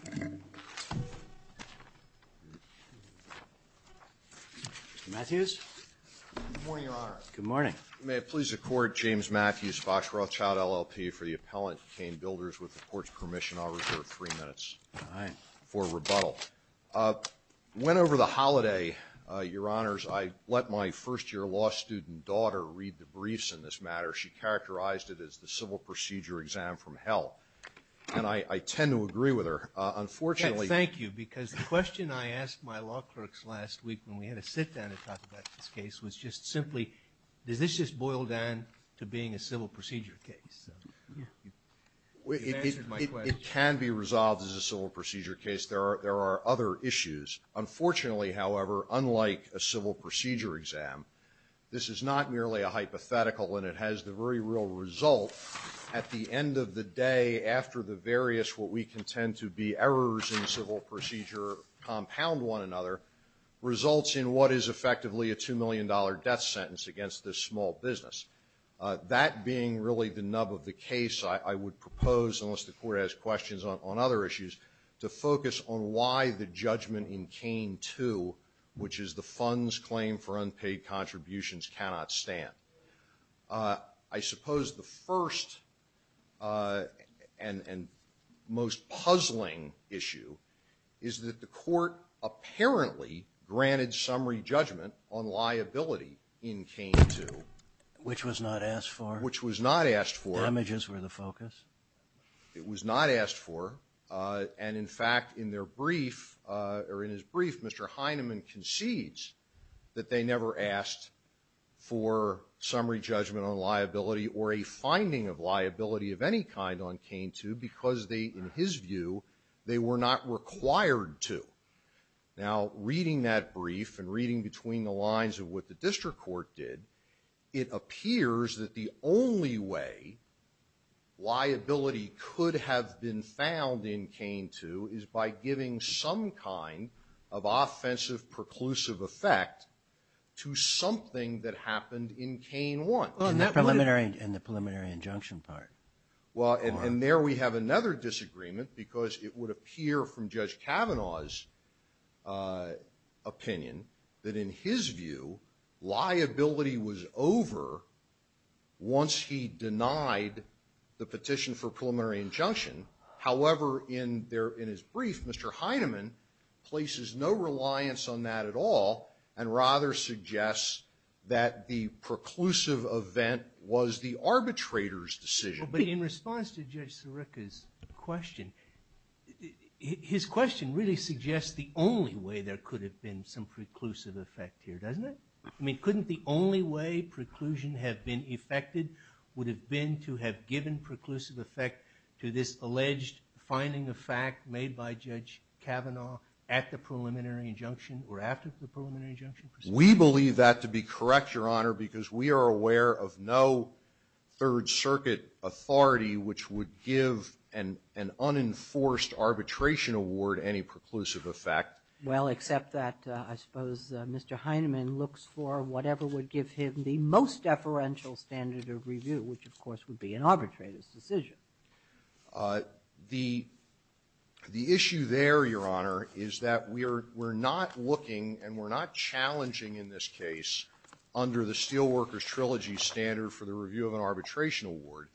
Mr. Matthews? Good morning, Your Honor. May it please the Court, James Matthews, Fox Rothschild LLP for the Appellant Kane Builders. With the Court's permission, I'll reserve three minutes for rebuttal. Went over the holiday, Your Honors, I let my first-year law student daughter read the briefs in this matter. She characterized it as the civil procedure exam from hell. And I tend to agree with her. Unfortunately... Thank you, because the question I asked my law clerks last week when we had a sit-down to talk about this case was just simply, does this just boil down to being a civil procedure case? It can be resolved as a civil procedure case. There are other issues. Unfortunately, however, unlike a civil procedure exam, this is not merely a hypothetical and it has the very real result, at the end of the day, after the various what we contend to be errors in civil procedure compound one another, results in what is effectively a $2 million death sentence against this small business. That being really the nub of the case, I would propose, unless the Court has questions on other issues, to focus on why the judgment in Kane 2, which is the fund's claim for unpaid contributions, cannot stand. I suppose the first and most puzzling issue is that the Court apparently granted summary judgment on liability in Kane 2. Which was not asked for. Which was not asked for. Damages were the focus. It was not asked for. And in fact, in their brief, or in his brief, Mr. Heineman concedes that they never asked for summary judgment on liability or a finding of liability of any kind on Kane 2 because they, in his view, they were not required to. Now, reading that brief and reading between the lines of what the district court did, it appears that the only way liability could have been found in Kane 2 is by giving some kind of something that happened in Kane 1. And the preliminary injunction part. Well, and there we have another disagreement because it would appear from Judge Kavanaugh's opinion that in his view, liability was over once he denied the petition for preliminary injunction. However, in his brief, Mr. Heineman places no reliance on that at all. And rather suggests that the preclusive event was the arbitrator's decision. But in response to Judge Sirica's question, his question really suggests the only way there could have been some preclusive effect here, doesn't it? I mean, couldn't the only way preclusion had been effected would have been to have given any preclusive effect to this alleged finding of fact made by Judge Kavanaugh at the preliminary injunction or after the preliminary injunction proceeding? We believe that to be correct, Your Honor, because we are aware of no Third Circuit authority which would give an unenforced arbitration award any preclusive effect. Well, except that, I suppose, Mr. Heineman looks for whatever would give him the most deferential standard of review, which, of course, would be an arbitrator's decision. The issue there, Your Honor, is that we're not looking and we're not challenging in this case under the Steelworkers Trilogy standard for the review of an arbitration award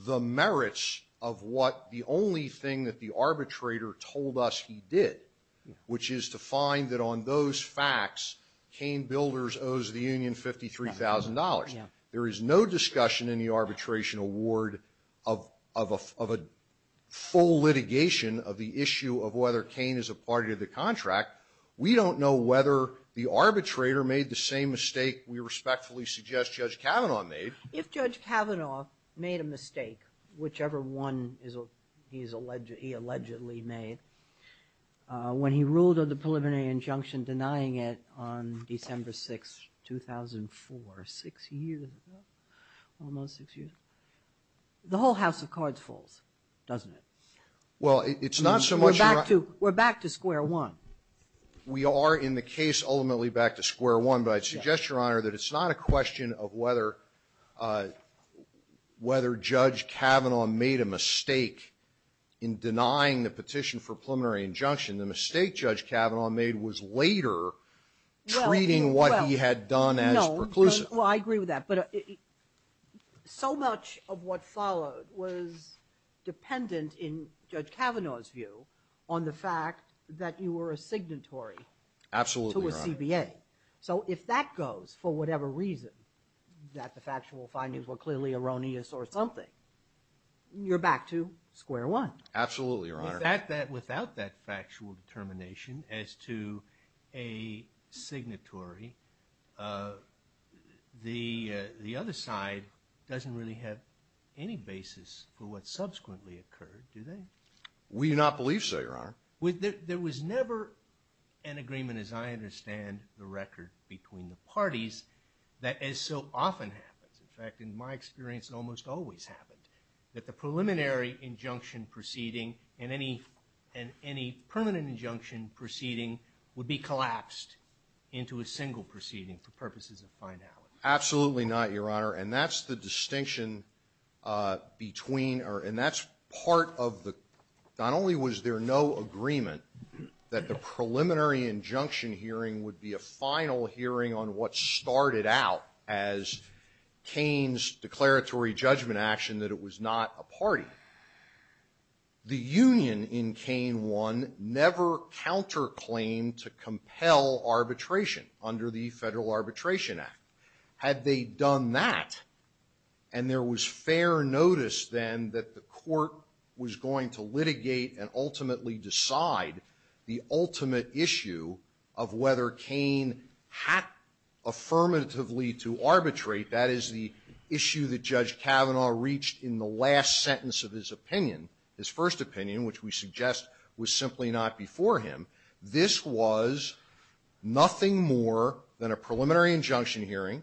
the merits of what the only thing that the arbitrator told us he did, which is to find that on those facts, Cain Builders owes the union $53,000. There is no discussion in the arbitration award of a full litigation of the issue of whether Cain is a party to the contract. We don't know whether the arbitrator made the same mistake we respectfully suggest Judge Kavanaugh made. If Judge Kavanaugh made a mistake, whichever one he allegedly made, when he ruled of the preliminary injunction denying it on December 6, 2004, six years ago, almost six years, the whole house of cards falls, doesn't it? Well, it's not so much in our We're back to square one. We are in the case ultimately back to square one, but I'd suggest, Your Honor, that it's not a question of whether Judge Kavanaugh made a mistake in denying the petition for preliminary injunction. The mistake Judge Kavanaugh made was later treating what he had done as perclusive. Well, I agree with that, but so much of what followed was dependent in Judge Kavanaugh's view on the fact that you were a signatory to a CBA. So if that goes for whatever reason, that the factual findings were clearly erroneous or something, you're back to square one. Absolutely, Your Honor. The fact that without that factual determination as to a signatory, the other side doesn't really have any basis for what subsequently occurred, do they? We do not believe so, Your Honor. There was never an agreement, as I understand the record, between the parties that as so often happens, in fact, in my experience it almost always happened, that the preliminary injunction proceeding and any permanent injunction proceeding would be collapsed into a single proceeding for purposes of finality. Absolutely not, Your Honor, and that's the distinction between, and that's part of the, not only was there no agreement that the preliminary injunction hearing would be a final hearing on what started out as Kaine's declaratory judgment action that it was not a party. The union in Kaine 1 never counterclaimed to compel arbitration under the Federal Arbitration Act. Had they done that, and there was fair notice then that the court was going to litigate and ultimately decide the ultimate issue of whether Kaine had affirmatively to arbitrate, that is the issue that Judge Kavanaugh reached in the last sentence of his opinion, his first opinion, which we suggest was simply not before him. This was nothing more than a preliminary injunction hearing.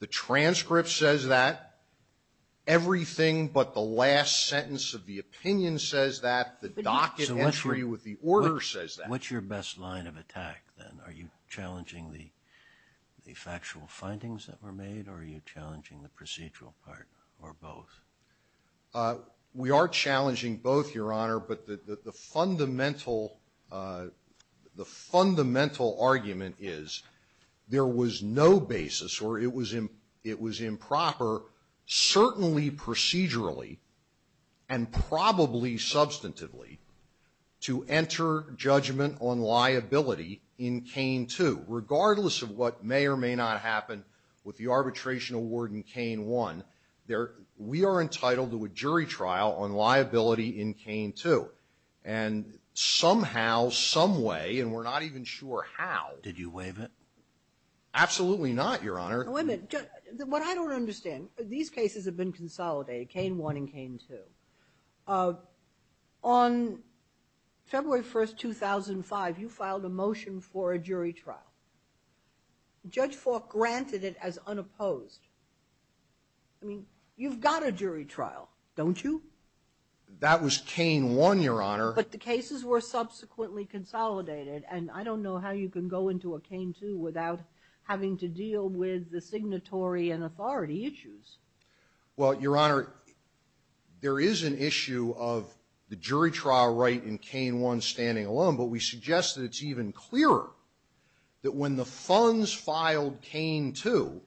The transcript says that. Everything but the last sentence of the opinion says that. The docket entry with the order says that. What's your best line of attack then? Are you challenging the factual findings that were made or are you challenging the procedural part or both? We are challenging both, Your Honor, but the fundamental argument is there was no basis or it was improper certainly procedurally and probably substantively to enter judgment on liability in Kaine 2 regardless of what may or may not happen with the arbitration award in Kaine 1. We are entitled to a jury trial on liability in Kaine 2 and somehow, someway, and we're not even sure how. Did you waive it? Absolutely not, Your Honor. Wait a minute. What I don't understand, these cases have been consolidated, Kaine 1 and Kaine 2. On February 1st, 2005, you filed a motion for a jury trial. Judge Faulk granted it as unopposed. I mean, you've got a jury trial, don't you? That was Kaine 1, Your Honor. But the cases were subsequently consolidated and I don't know how you can go into a jury trial without having to deal with the signatory and authority issues. Well, Your Honor, there is an issue of the jury trial right in Kaine 1 standing alone, but we suggest that it's even clearer that when the funds filed Kaine 2,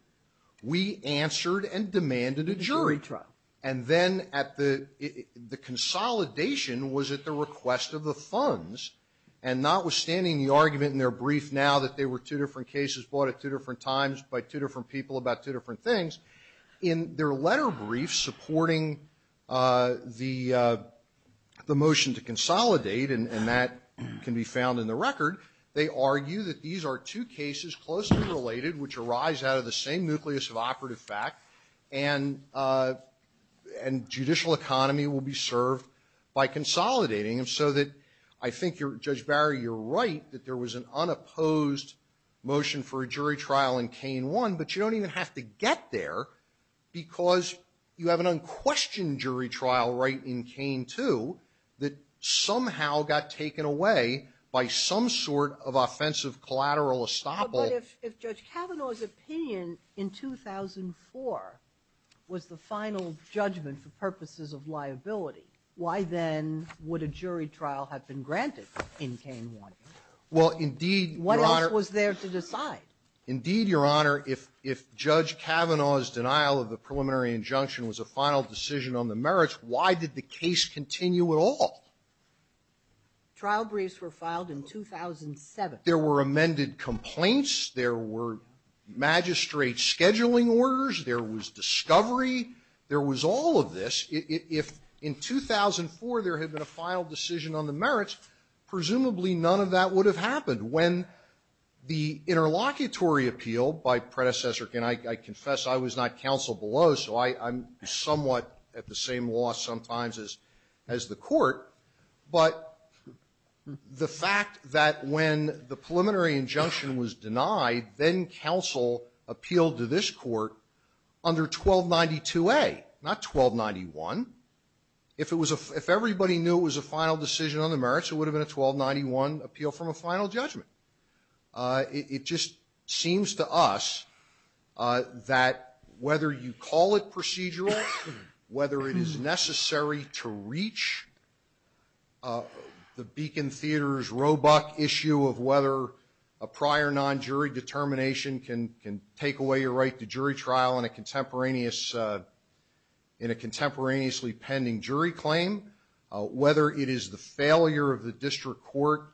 we answered and demanded a jury trial. And then at the consolidation was at the request of the funds and notwithstanding the argument in their brief now that they were two different cases brought at two different times by two different people about two different things, in their letter brief supporting the motion to consolidate, and that can be found in the record, they argue that these are two cases closely related which arise out of the same nucleus of operative fact and judicial economy will be served by consolidating them so that I think you're, Judge Barry, you're right that there was an unopposed motion for a jury trial in Kaine 1, but you don't even have to get there because you have an unquestioned jury trial right in Kaine 2 that somehow got taken away by some sort of offensive collateral estoppel. But if Judge Kavanaugh's opinion in 2004 was the final judgment for purposes of liability, why then would a jury trial have been granted in Kaine 1? Well, indeed, Your Honor. What else was there to decide? Indeed, Your Honor. If Judge Kavanaugh's denial of the preliminary injunction was a final decision on the merits, why did the case continue at all? Trial briefs were filed in 2007. There were amended complaints. There were magistrate scheduling orders. There was discovery. There was all of this. If in 2004 there had been a final decision on the merits, presumably none of that would have happened. When the interlocutory appeal by predecessor, and I confess I was not counsel below, so I'm somewhat at the same loss sometimes as the court. But the fact that when the preliminary injunction was denied, then counsel appealed to this court under 1292A, not 1291, if everybody knew it was a final decision on the merits, it would have been a 1291 appeal from a final judgment. It just seems to us that whether you call it procedural, whether it is necessary to reach the Beacon Theater's Roebuck issue of whether a prior non-jury determination can take away your right to jury trial in a contemporaneously pending jury claim, whether it is the failure of the district court,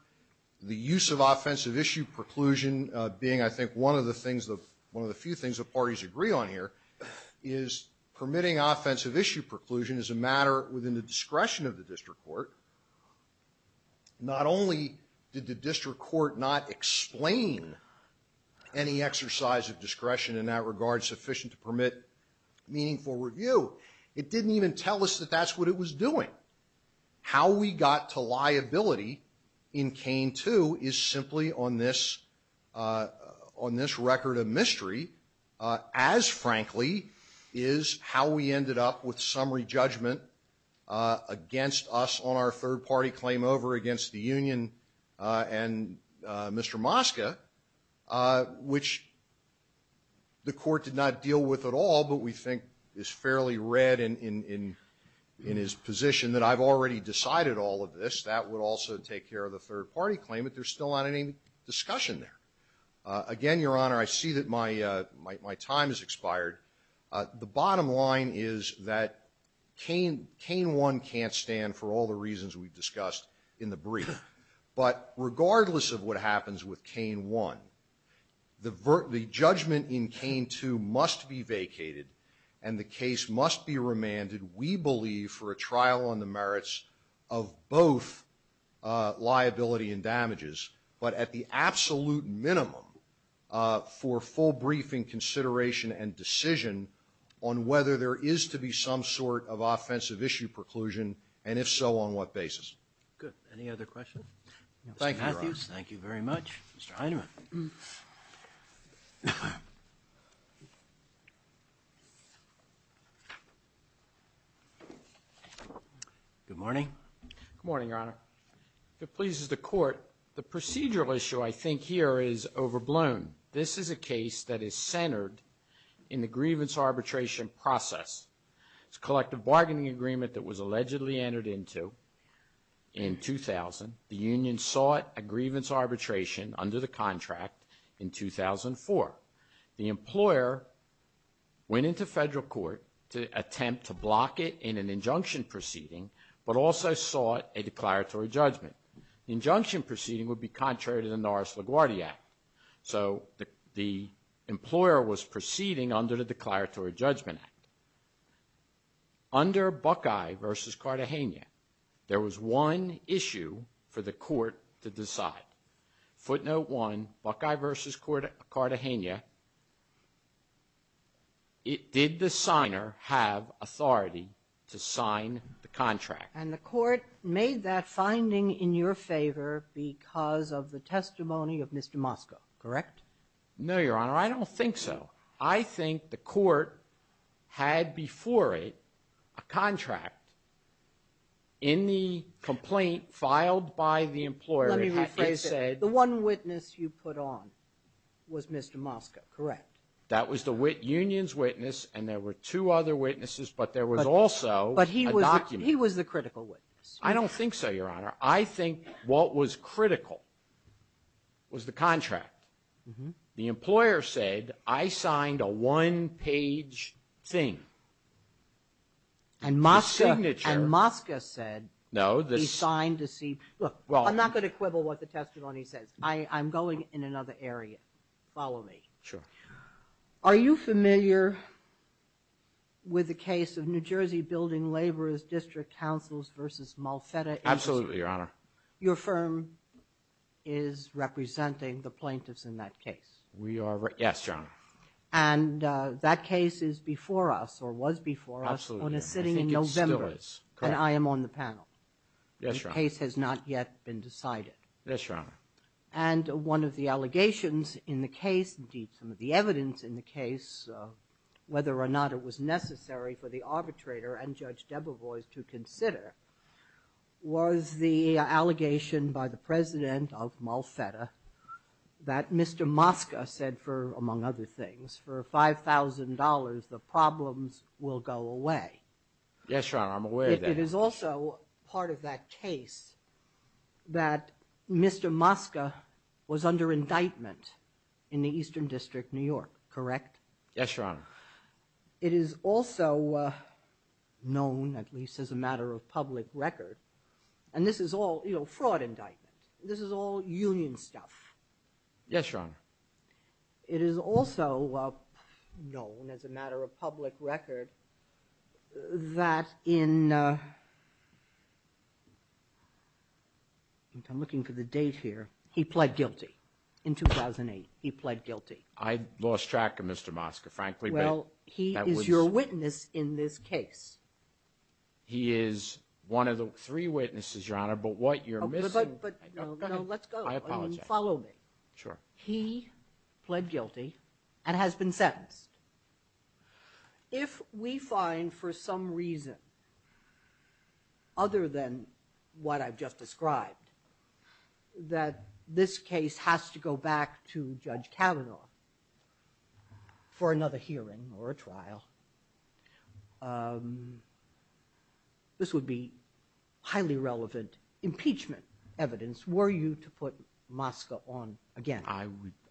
the use of offensive issue preclusion being, I think, one of the few things that parties agree on here, is permitting offensive issue preclusion is a matter within the discretion of the district court. Not only did the district court not explain any exercise of discretion in that regard sufficient to permit meaningful review, it didn't even tell us that that's what it was doing. How we got to liability in Kane 2 is simply on this record of mystery, as frankly is how we ended up with summary judgment against us on our third-party claim over against the union and Mr. Mosca, which the court did not deal with at all, but we think is fairly red in his position that I've already decided all of this. That would also take care of the third-party claim, but there's still not any discussion there. Again, Your Honor, I see that my time has expired. The bottom line is that Kane 1 can't stand for all the reasons we've discussed in the brief, but regardless of what happens with Kane 1, the judgment in Kane 2 must be vacated and the case must be remanded, we believe, for a trial on the merits of both liability and damages, but at the absolute minimum for full briefing, consideration, and decision on whether there is to be some sort of offensive issue preclusion, and if so, on what basis. Good. Any other questions? Thank you, Your Honor. Mr. Matthews, thank you very much. Mr. Heinemann. Good morning. Good morning, Your Honor. If it pleases the Court, the procedural issue I think here is overblown. This is a case that is centered in the grievance arbitration process. It's a collective bargaining agreement that was allegedly entered into in 2000. The union sought a grievance arbitration under the contract in 2004. The employer went into federal court to attempt to block it in an injunction proceeding, but also sought a declaratory judgment. Injunction proceeding would be contrary to the Norris-LaGuardia Act, so the employer was proceeding under the Declaratory Judgment Act. Under Buckeye v. Cartagena, there was one issue for the court to decide. Footnote 1, Buckeye v. Cartagena, it did the signer have authority to sign the contract. And the court made that finding in your favor because of the testimony of Mr. Moskow, correct? No, Your Honor. I don't think so. I think the court had before it a contract in the complaint filed by the employer. Let me rephrase that. The one witness you put on was Mr. Moskow, correct? That was the union's witness, and there were two other witnesses, but there was also a document. But he was the critical witness. I don't think so, Your Honor. I think what was critical was the contract. The employer said, I signed a one-page thing. And Moskow said he signed to see. Look, I'm not going to quibble what the testimony says. I'm going in another area. Follow me. Sure. Are you familiar with the case of New Jersey Building Laborers District Councils versus Malfetta? Absolutely, Your Honor. Your firm is representing the plaintiffs in that case. We are, yes, Your Honor. And that case is before us or was before us when it's sitting in November, and I am on the panel. Yes, Your Honor. The case has not yet been decided. Yes, Your Honor. And one of the allegations in the case, indeed, some of the evidence in the case, whether or not it was necessary for the arbitrator and Judge Debevoise to consider, was the allegation by the president of Malfetta that Mr. Moskow said for, among other things, for $5,000, the problems will go away. Yes, Your Honor, I'm aware of that. It is also part of that case that Mr. Moskow was under indictment in the Eastern District, New York, correct? Yes, Your Honor. It is also known, at least as a matter of public record, and this is all fraud indictment. This is all union stuff. Yes, Your Honor. It is also known, as a matter of public record, that in, I'm looking for the date here, he pled guilty. In 2008, he pled guilty. I lost track of Mr. Moskow, frankly. Well, he is your witness in this case. He is one of the three witnesses, Your Honor, but what you're missing. But, no, let's go. I apologize. Follow me. Sure. He pled guilty and has been sentenced. If we find, for some reason, other than what I've just described, that this case has to go back to Judge Kavanaugh for another hearing or a trial, this would be highly relevant impeachment evidence were you to put Moskow on again.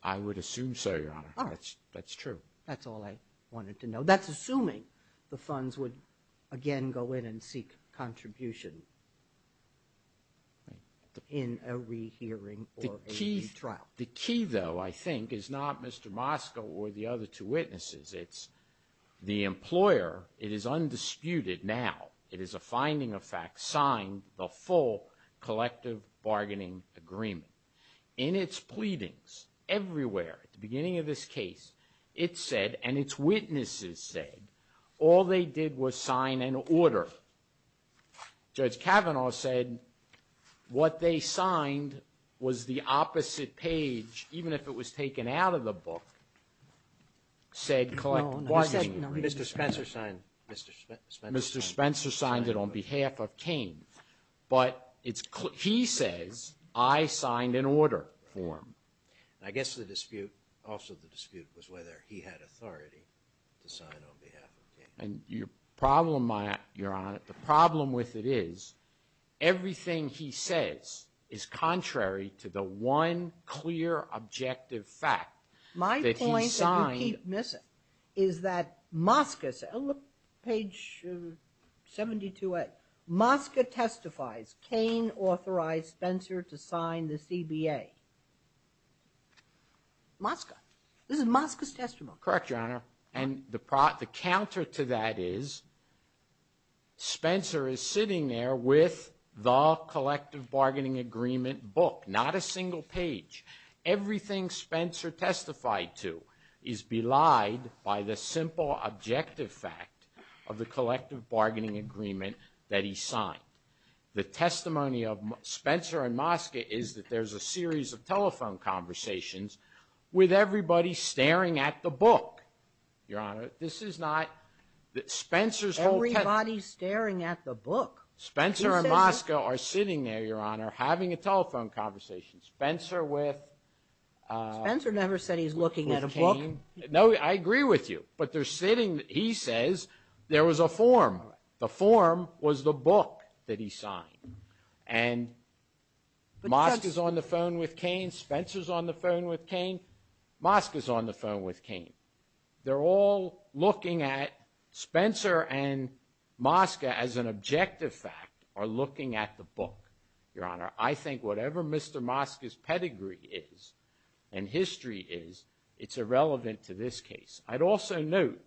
I would assume so, Your Honor. That's true. That's all I wanted to know. That's assuming the funds would, again, go in and seek contribution in a rehearing or a trial. The key, though, I think, is not Mr. Moskow or the other two witnesses. It's the employer. It is undisputed now. It is a finding of fact signed, the full collective bargaining agreement. In its pleadings, everywhere, at the beginning of this case, it said, and its witnesses said, all they did was sign an order. Judge Kavanaugh said what they signed was the opposite page, even if it was taken out of the book, said collective bargaining agreement. Mr. Spencer signed it on behalf of Kane. But it's clear, he says, I signed an order for him. I guess the dispute, also the dispute, was whether he had authority to sign on behalf of Kane. And your problem, Your Honor, the problem with it is, everything he says is contrary to the one clear, objective fact that he signed. What I keep missing is that Moskow, page 72A, Moskow testifies, Kane authorized Spencer to sign the CBA. Moskow, this is Moskow's testimony. Correct, Your Honor, and the counter to that is, Spencer is sitting there with the collective bargaining agreement book, not a single page. Everything Spencer testified to is belied by the simple, objective fact of the collective bargaining agreement that he signed. The testimony of Spencer and Moskow is that there's a series of telephone conversations with everybody staring at the book. Your Honor, this is not, Spencer's whole testimony. Everybody's staring at the book. Spencer and Moskow are sitting there, Your Honor, having a telephone conversation. Spencer with, with Kane, no, I agree with you, but they're sitting, he says, there was a form. The form was the book that he signed, and Moskow's on the phone with Kane, Spencer's on the phone with Kane, Moskow's on the phone with Kane. They're all looking at Spencer and Moskow as an objective fact, or looking at the book, Your Honor. I think whatever Mr. Moskow's pedigree is, and history is, it's irrelevant to this case. I'd also note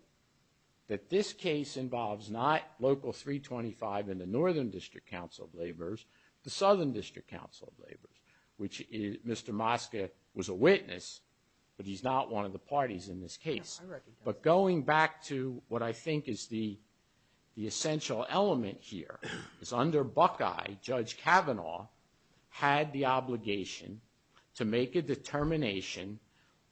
that this case involves not Local 325 and the Northern District Council of Laborers, the Southern District Council of Laborers, which Mr. Moskow was a witness, but he's not one of the parties in this case. But going back to what I think is the, the essential element here is under Buckeye, Judge Kavanaugh had the obligation to make a determination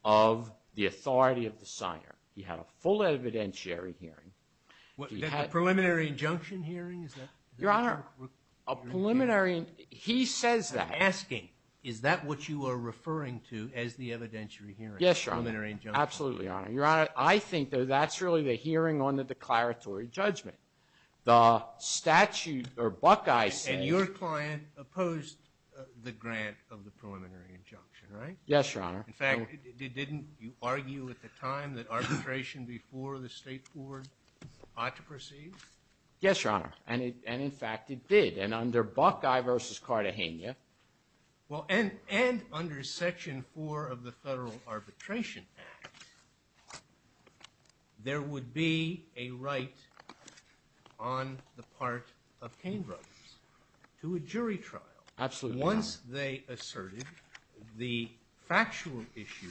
of the authority of the signer. He had a full evidentiary hearing. The preliminary injunction hearing, is that? Your Honor, a preliminary, he says that. I'm asking, is that what you are referring to as the evidentiary hearing? Preliminary injunction hearing. Absolutely, Your Honor. Your Honor, I think that that's really the hearing on the declaratory judgment. The statute, or Buckeye says. And your client opposed the grant of the preliminary injunction, right? Yes, Your Honor. In fact, didn't you argue at the time that arbitration before the State Board ought to proceed? Yes, Your Honor. And in fact, it did. And under Buckeye v. Cartagena. Well, and, and under Section 4 of the Federal Arbitration Act, there would be a right on the part of Cain Brothers to a jury trial. Absolutely. Once they asserted the factual issue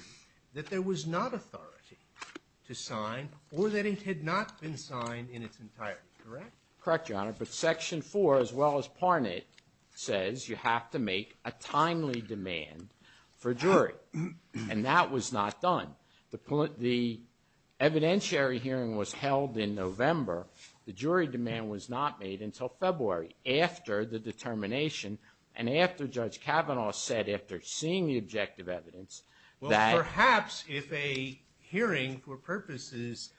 that there was not authority to sign or that it had not been signed in its entirety, correct? Correct, Your Honor. But Section 4, as well as Parnet, says you have to make a timely demand for jury. And that was not done. The evidentiary hearing was held in November. The jury demand was not made until February after the determination. And after Judge Kavanaugh said, after seeing the objective evidence. Well, perhaps if a hearing for purposes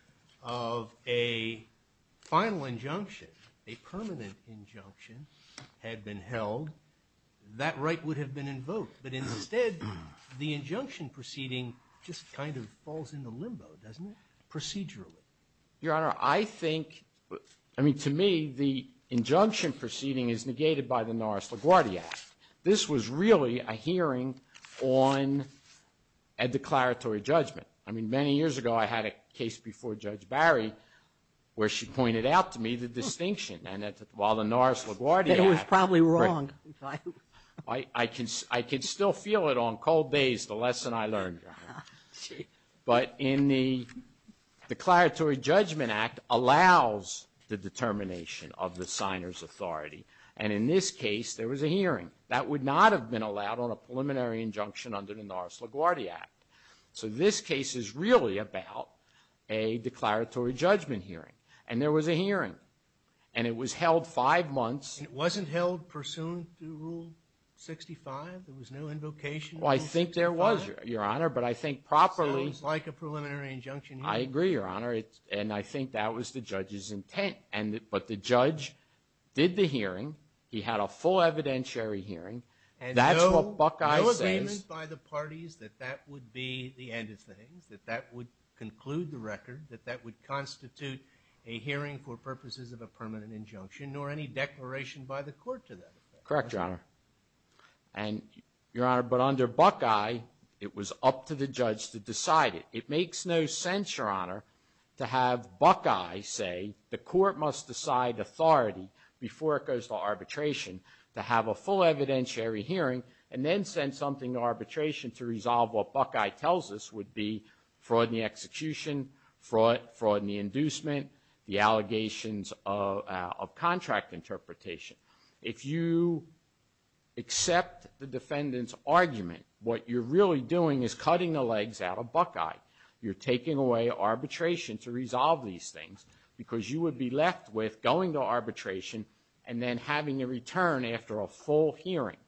of a final injunction, a permanent injunction, had been held, that right would have been invoked. But instead, the injunction proceeding just kind of falls into limbo, doesn't it, procedurally? Your Honor, I think, I mean, to me, the injunction proceeding is negated by the Norris LaGuardia Act. This was really a hearing on a declaratory judgment. I mean, many years ago, I had a case before Judge Barry, where she pointed out to me the distinction. And while the Norris LaGuardia Act. That it was probably wrong. I can still feel it on cold days, the lesson I learned. But in the Declaratory Judgment Act allows the determination of the signer's authority. And in this case, there was a hearing. That would not have been allowed on a preliminary injunction under the Norris LaGuardia Act. So this case is really about a declaratory judgment hearing. And there was a hearing. And it was held five months. And it wasn't held pursuant to Rule 65? There was no invocation? Well, I think there was, Your Honor. But I think properly. Sounds like a preliminary injunction hearing. I agree, Your Honor. And I think that was the judge's intent. And, but the judge did the hearing. He had a full evidentiary hearing. And that's what Buckeye says. And no agreement by the parties that that would be the end of things? That that would conclude the record? That that would constitute a hearing for purposes of a permanent injunction? Nor any declaration by the court to that effect? Correct, Your Honor. And, Your Honor, but under Buckeye, it was up to the judge to decide it. It makes no sense, Your Honor, to have Buckeye say the court must decide authority before it goes to arbitration to have a full evidentiary hearing and then send something to arbitration to resolve what Buckeye tells us would be fraud in the execution, fraud in the inducement, the allegations of contract interpretation. If you accept the defendant's argument, what you're really doing is cutting the legs out of Buckeye. You're taking away arbitration to resolve these things because you would be left with going to arbitration and then having a return after a full hearing.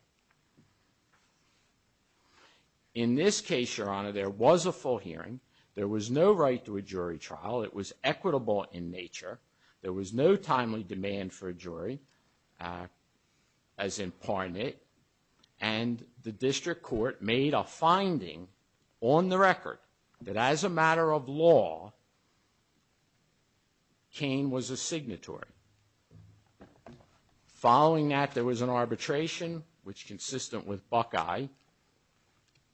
In this case, Your Honor, there was a full hearing. There was no right to a jury trial. It was equitable in nature. There was no timely demand for a jury, as in Parnet. And the district court made a finding on the record that as a matter of law, Kane was a signatory. Following that, there was an arbitration, which consistent with Buckeye,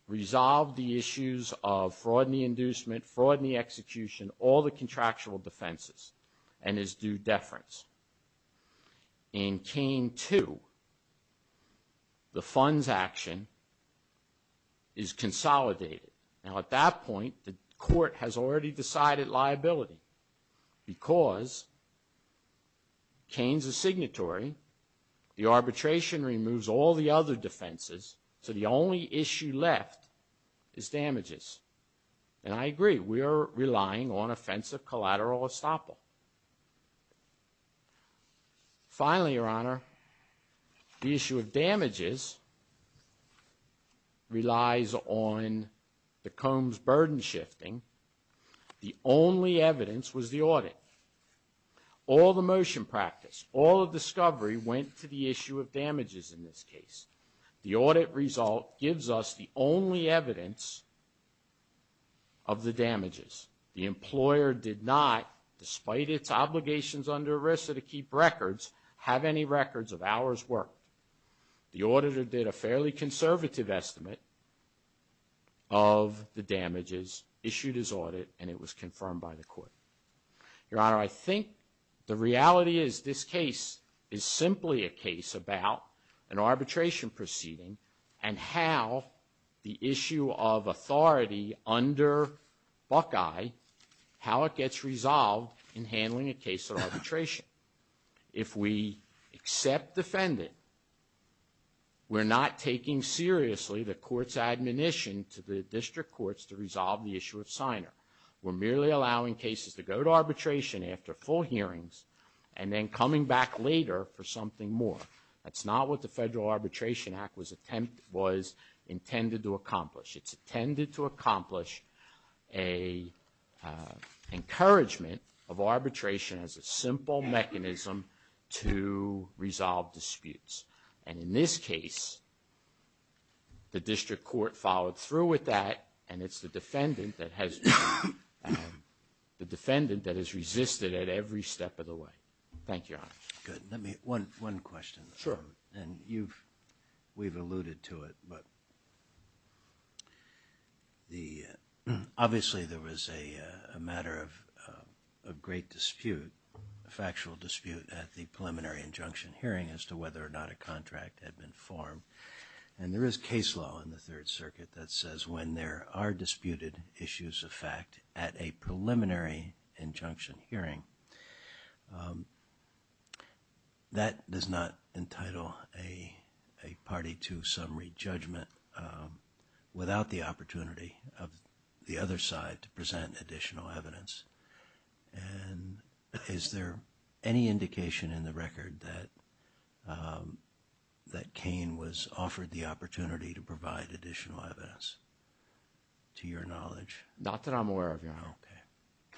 resolved the issues of fraud in the inducement, fraud in the execution, all the contractual defenses and is due deference. In Kane 2, the funds action is consolidated. Now, at that point, the court has already decided liability because Kane's a signatory, the arbitration removes all the other defenses, so the only issue left is damages. And I agree, we are relying on offensive collateral estoppel. Relies on the Combs burden shifting. The only evidence was the audit. All the motion practice, all of discovery went to the issue of damages in this case. The audit result gives us the only evidence of the damages. The employer did not, despite its obligations under ERISA to keep records, have any records of hours worked. The auditor did a fairly conservative estimate of the damages issued as audit and it was confirmed by the court. Your Honor, I think the reality is this case is simply a case about an arbitration proceeding and how the issue of authority under Buckeye, how it gets resolved in handling a case of arbitration. If we accept defendant, we're not taking seriously the court's admonition to the district courts to resolve the issue of signer. We're merely allowing cases to go to arbitration after full hearings and then coming back later for something more. That's not what the Federal Arbitration Act was intended to accomplish. It's intended to accomplish a encouragement of arbitration as a simple mechanism to resolve disputes. And in this case, the district court followed through with that and it's the defendant that has the defendant that has resisted at every step of the way. Thank you, Your Honor. Good. Let me, one question. Sure. And you've, we've alluded to it, but the, obviously, there was a matter of a great dispute, a factual dispute at the preliminary injunction. Hearing as to whether or not a contract had been formed and there is case law in the Third Circuit that says when there are disputed issues of fact at a preliminary injunction hearing. That does not entitle a party to summary judgment without the opportunity of the other side to present additional evidence. And that Kane was offered the opportunity to provide additional evidence to your knowledge. Not that I'm aware of, Your Honor.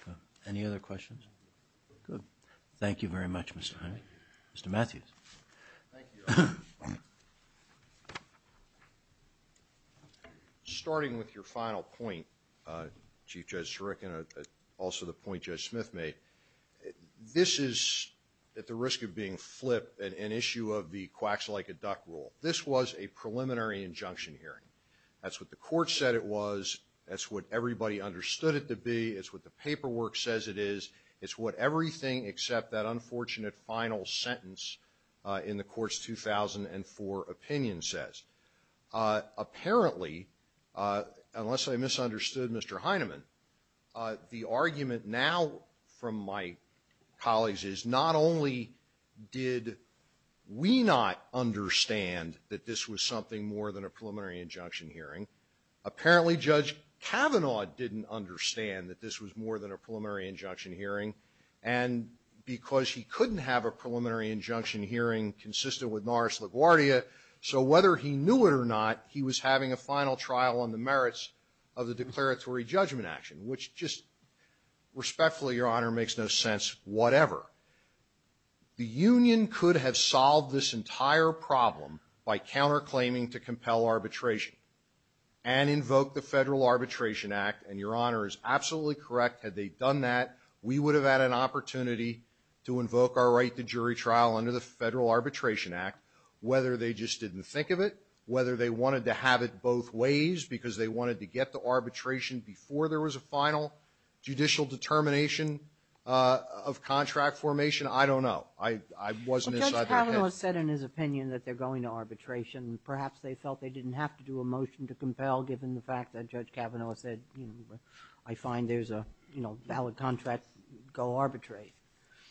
Okay. Any other questions? Good. Thank you very much, Mr. Hyman. Mr. Matthews. Starting with your final point, Chief Judge Zarek and also the point Judge Smith made, this is at the risk of being flipped, an issue of the quacks like a duck rule. This was a preliminary injunction hearing. That's what the court said it was. That's what everybody understood it to be. It's what the paperwork says it is. It's what everything except that unfortunate final sentence in the court's 2004 opinion says. Apparently, unless I misunderstood Mr. Hyman, the argument now from my colleagues is not only did we not understand that this was something more than a preliminary injunction hearing. Apparently, Judge Kavanaugh didn't understand that this was more than a preliminary injunction hearing and because he couldn't have a preliminary injunction hearing consistent with Norris LaGuardia, so whether he knew it or not, he was having a final trial on the merits of the declaratory judgment action, which just respectfully, Your Honor, makes no sense, whatever. The union could have solved this entire problem by counterclaiming to compel arbitration and invoke the Federal Arbitration Act, and Your Honor is absolutely correct. Had they done that, we would have had an opportunity to invoke our right to jury trial under the Federal Arbitration Act, whether they just didn't think of it, whether they wanted to have it both ways, because they wanted to get to arbitration before there was a final judicial determination of contract formation, I don't know. I wasn't inside their head. But Judge Kavanaugh said in his opinion that they're going to arbitration. Perhaps they felt they didn't have to do a motion to compel, given the fact that Judge Kavanaugh said, you know, I find there's a, you know, valid contract, go arbitrate.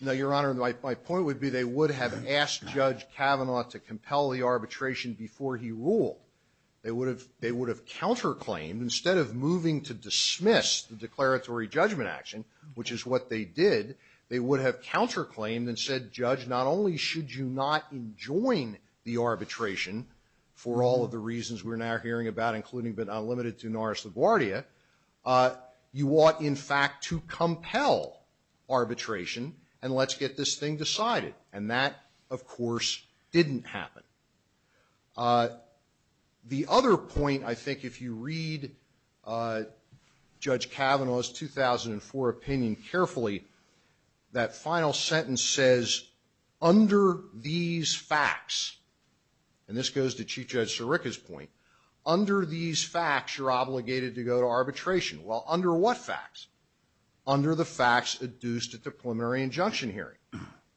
No, Your Honor, my point would be they would have asked Judge Kavanaugh to compel the arbitration before he ruled. They would have, they would have counterclaimed, instead of moving to dismiss the declaratory judgment action, which is what they did, they would have counterclaimed and said, Judge, not only should you not enjoin the arbitration for all of the reasons we're now hearing about, including but not limited to Norris LaGuardia, you ought, in fact, to compel arbitration, and let's get this thing decided. And that, of course, didn't happen. The other point, I think, if you read Judge Kavanaugh's 2004 opinion carefully, that final sentence says, under these facts, and this goes to Chief Judge Sirica's point, under these facts, you're obligated to go to arbitration. Well, under what facts? Under the facts adduced at the preliminary injunction hearing.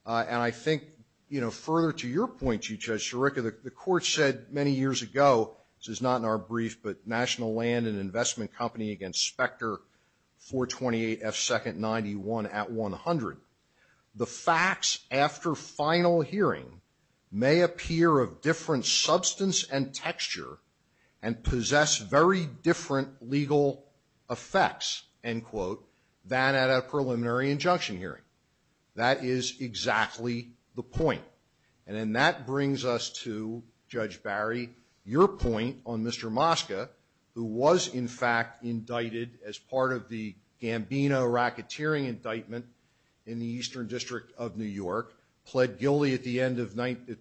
And I think, you know, further to your point, Chief Judge Sirica, the court said many years ago, this is not in our brief, but National Land and Investment Company against Spectre 428F2-91 at 100, the facts after final hearing may appear of different substance and texture and possess very different legal effects, end quote, than at a preliminary injunction hearing. That is exactly the point. And then that brings us to Judge Barry, your point on Mr. Mosca, who was, in fact, indicted as part of the Gambino racketeering indictment in the Eastern District of New York, pled guilty at the end of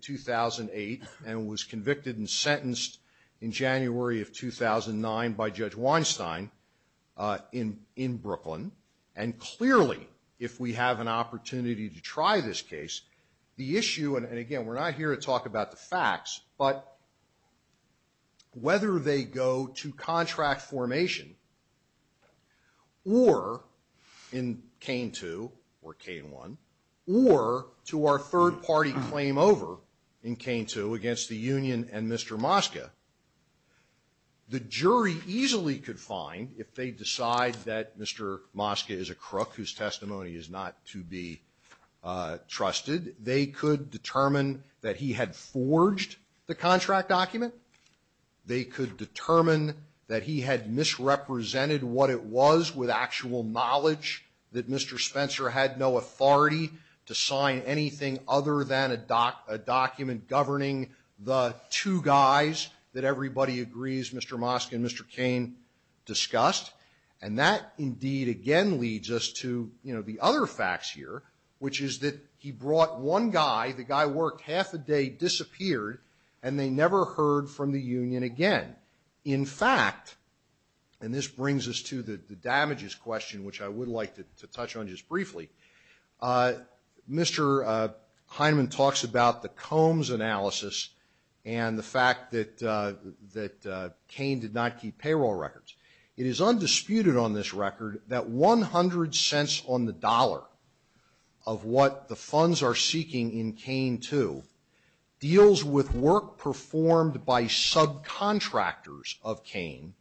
2008, and was convicted and sentenced in January of 2009 by Judge Weinstein in Brooklyn. And clearly, if we have an opportunity to try this case, the issue, and again, we're not here to talk about the facts, but whether they go to contract formation, or in a third-party claim over in K2 against the union and Mr. Mosca, the jury easily could find, if they decide that Mr. Mosca is a crook whose testimony is not to be trusted, they could determine that he had forged the contract document. They could determine that he had misrepresented what it was with actual knowledge, that Mr. Spencer had no authority to sign anything other than a document governing the two guys that everybody agrees Mr. Mosca and Mr. Cain discussed. And that, indeed, again leads us to, you know, the other facts here, which is that he brought one guy, the guy worked half a day, disappeared, and they never heard from the union again. In fact, and this brings us to the damages question, which I would like to touch on just briefly, Mr. Heinemann talks about the Combs analysis and the fact that that Cain did not keep payroll records. It is undisputed on this record that 100 cents on the dollar of what the funds are seeking in Cain 2 deals with work performed by subcontractors of Cain,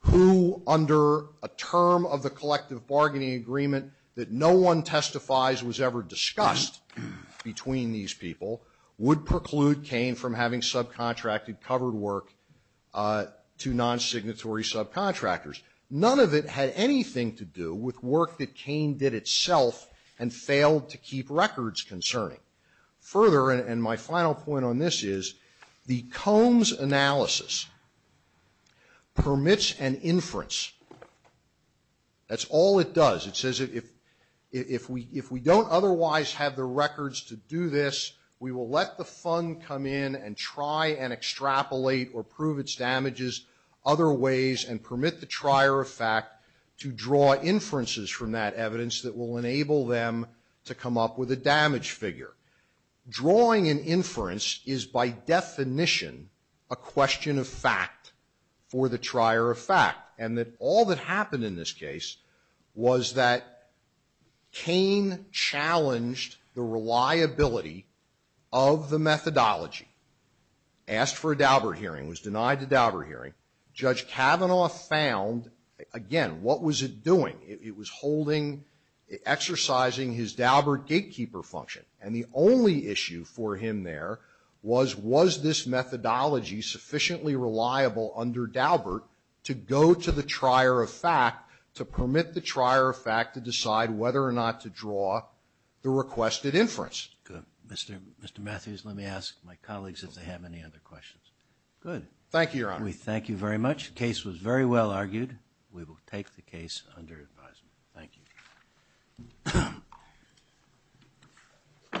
who, under a term of the collective bargaining agreement that no one testifies was ever discussed between these people, would preclude Cain from having subcontracted covered work to non-signatory subcontractors. None of it had anything to do with work that Cain did itself and failed to keep records concerning. Further, and my final point on this is, the Combs analysis permits an inference. That's all it does. It says if we don't otherwise have the records to do this, we will let the fund come in and try and extrapolate or prove its damages other ways and permit the trier of fact to draw inferences from that evidence that will enable them to come up with a damage figure. Drawing an inference is by definition a question of fact for the trier of fact, and that all that happened in this case was that Cain challenged the reliability of the methodology. Asked for a Daubert hearing, was denied the Daubert hearing. Judge Kavanaugh found, again, what was it doing? It was holding, exercising his Daubert gatekeeper function, and the only issue for him there was, was this methodology sufficiently reliable under Daubert to go to the trier of fact, to permit the trier of fact to decide whether or not to draw the requested inference. Good. Mr. Matthews, let me ask my colleagues if they have any other questions. Good. Thank you, Your Honor. We thank you very much. The case was very well argued. We will take the case under advisement. Thank you.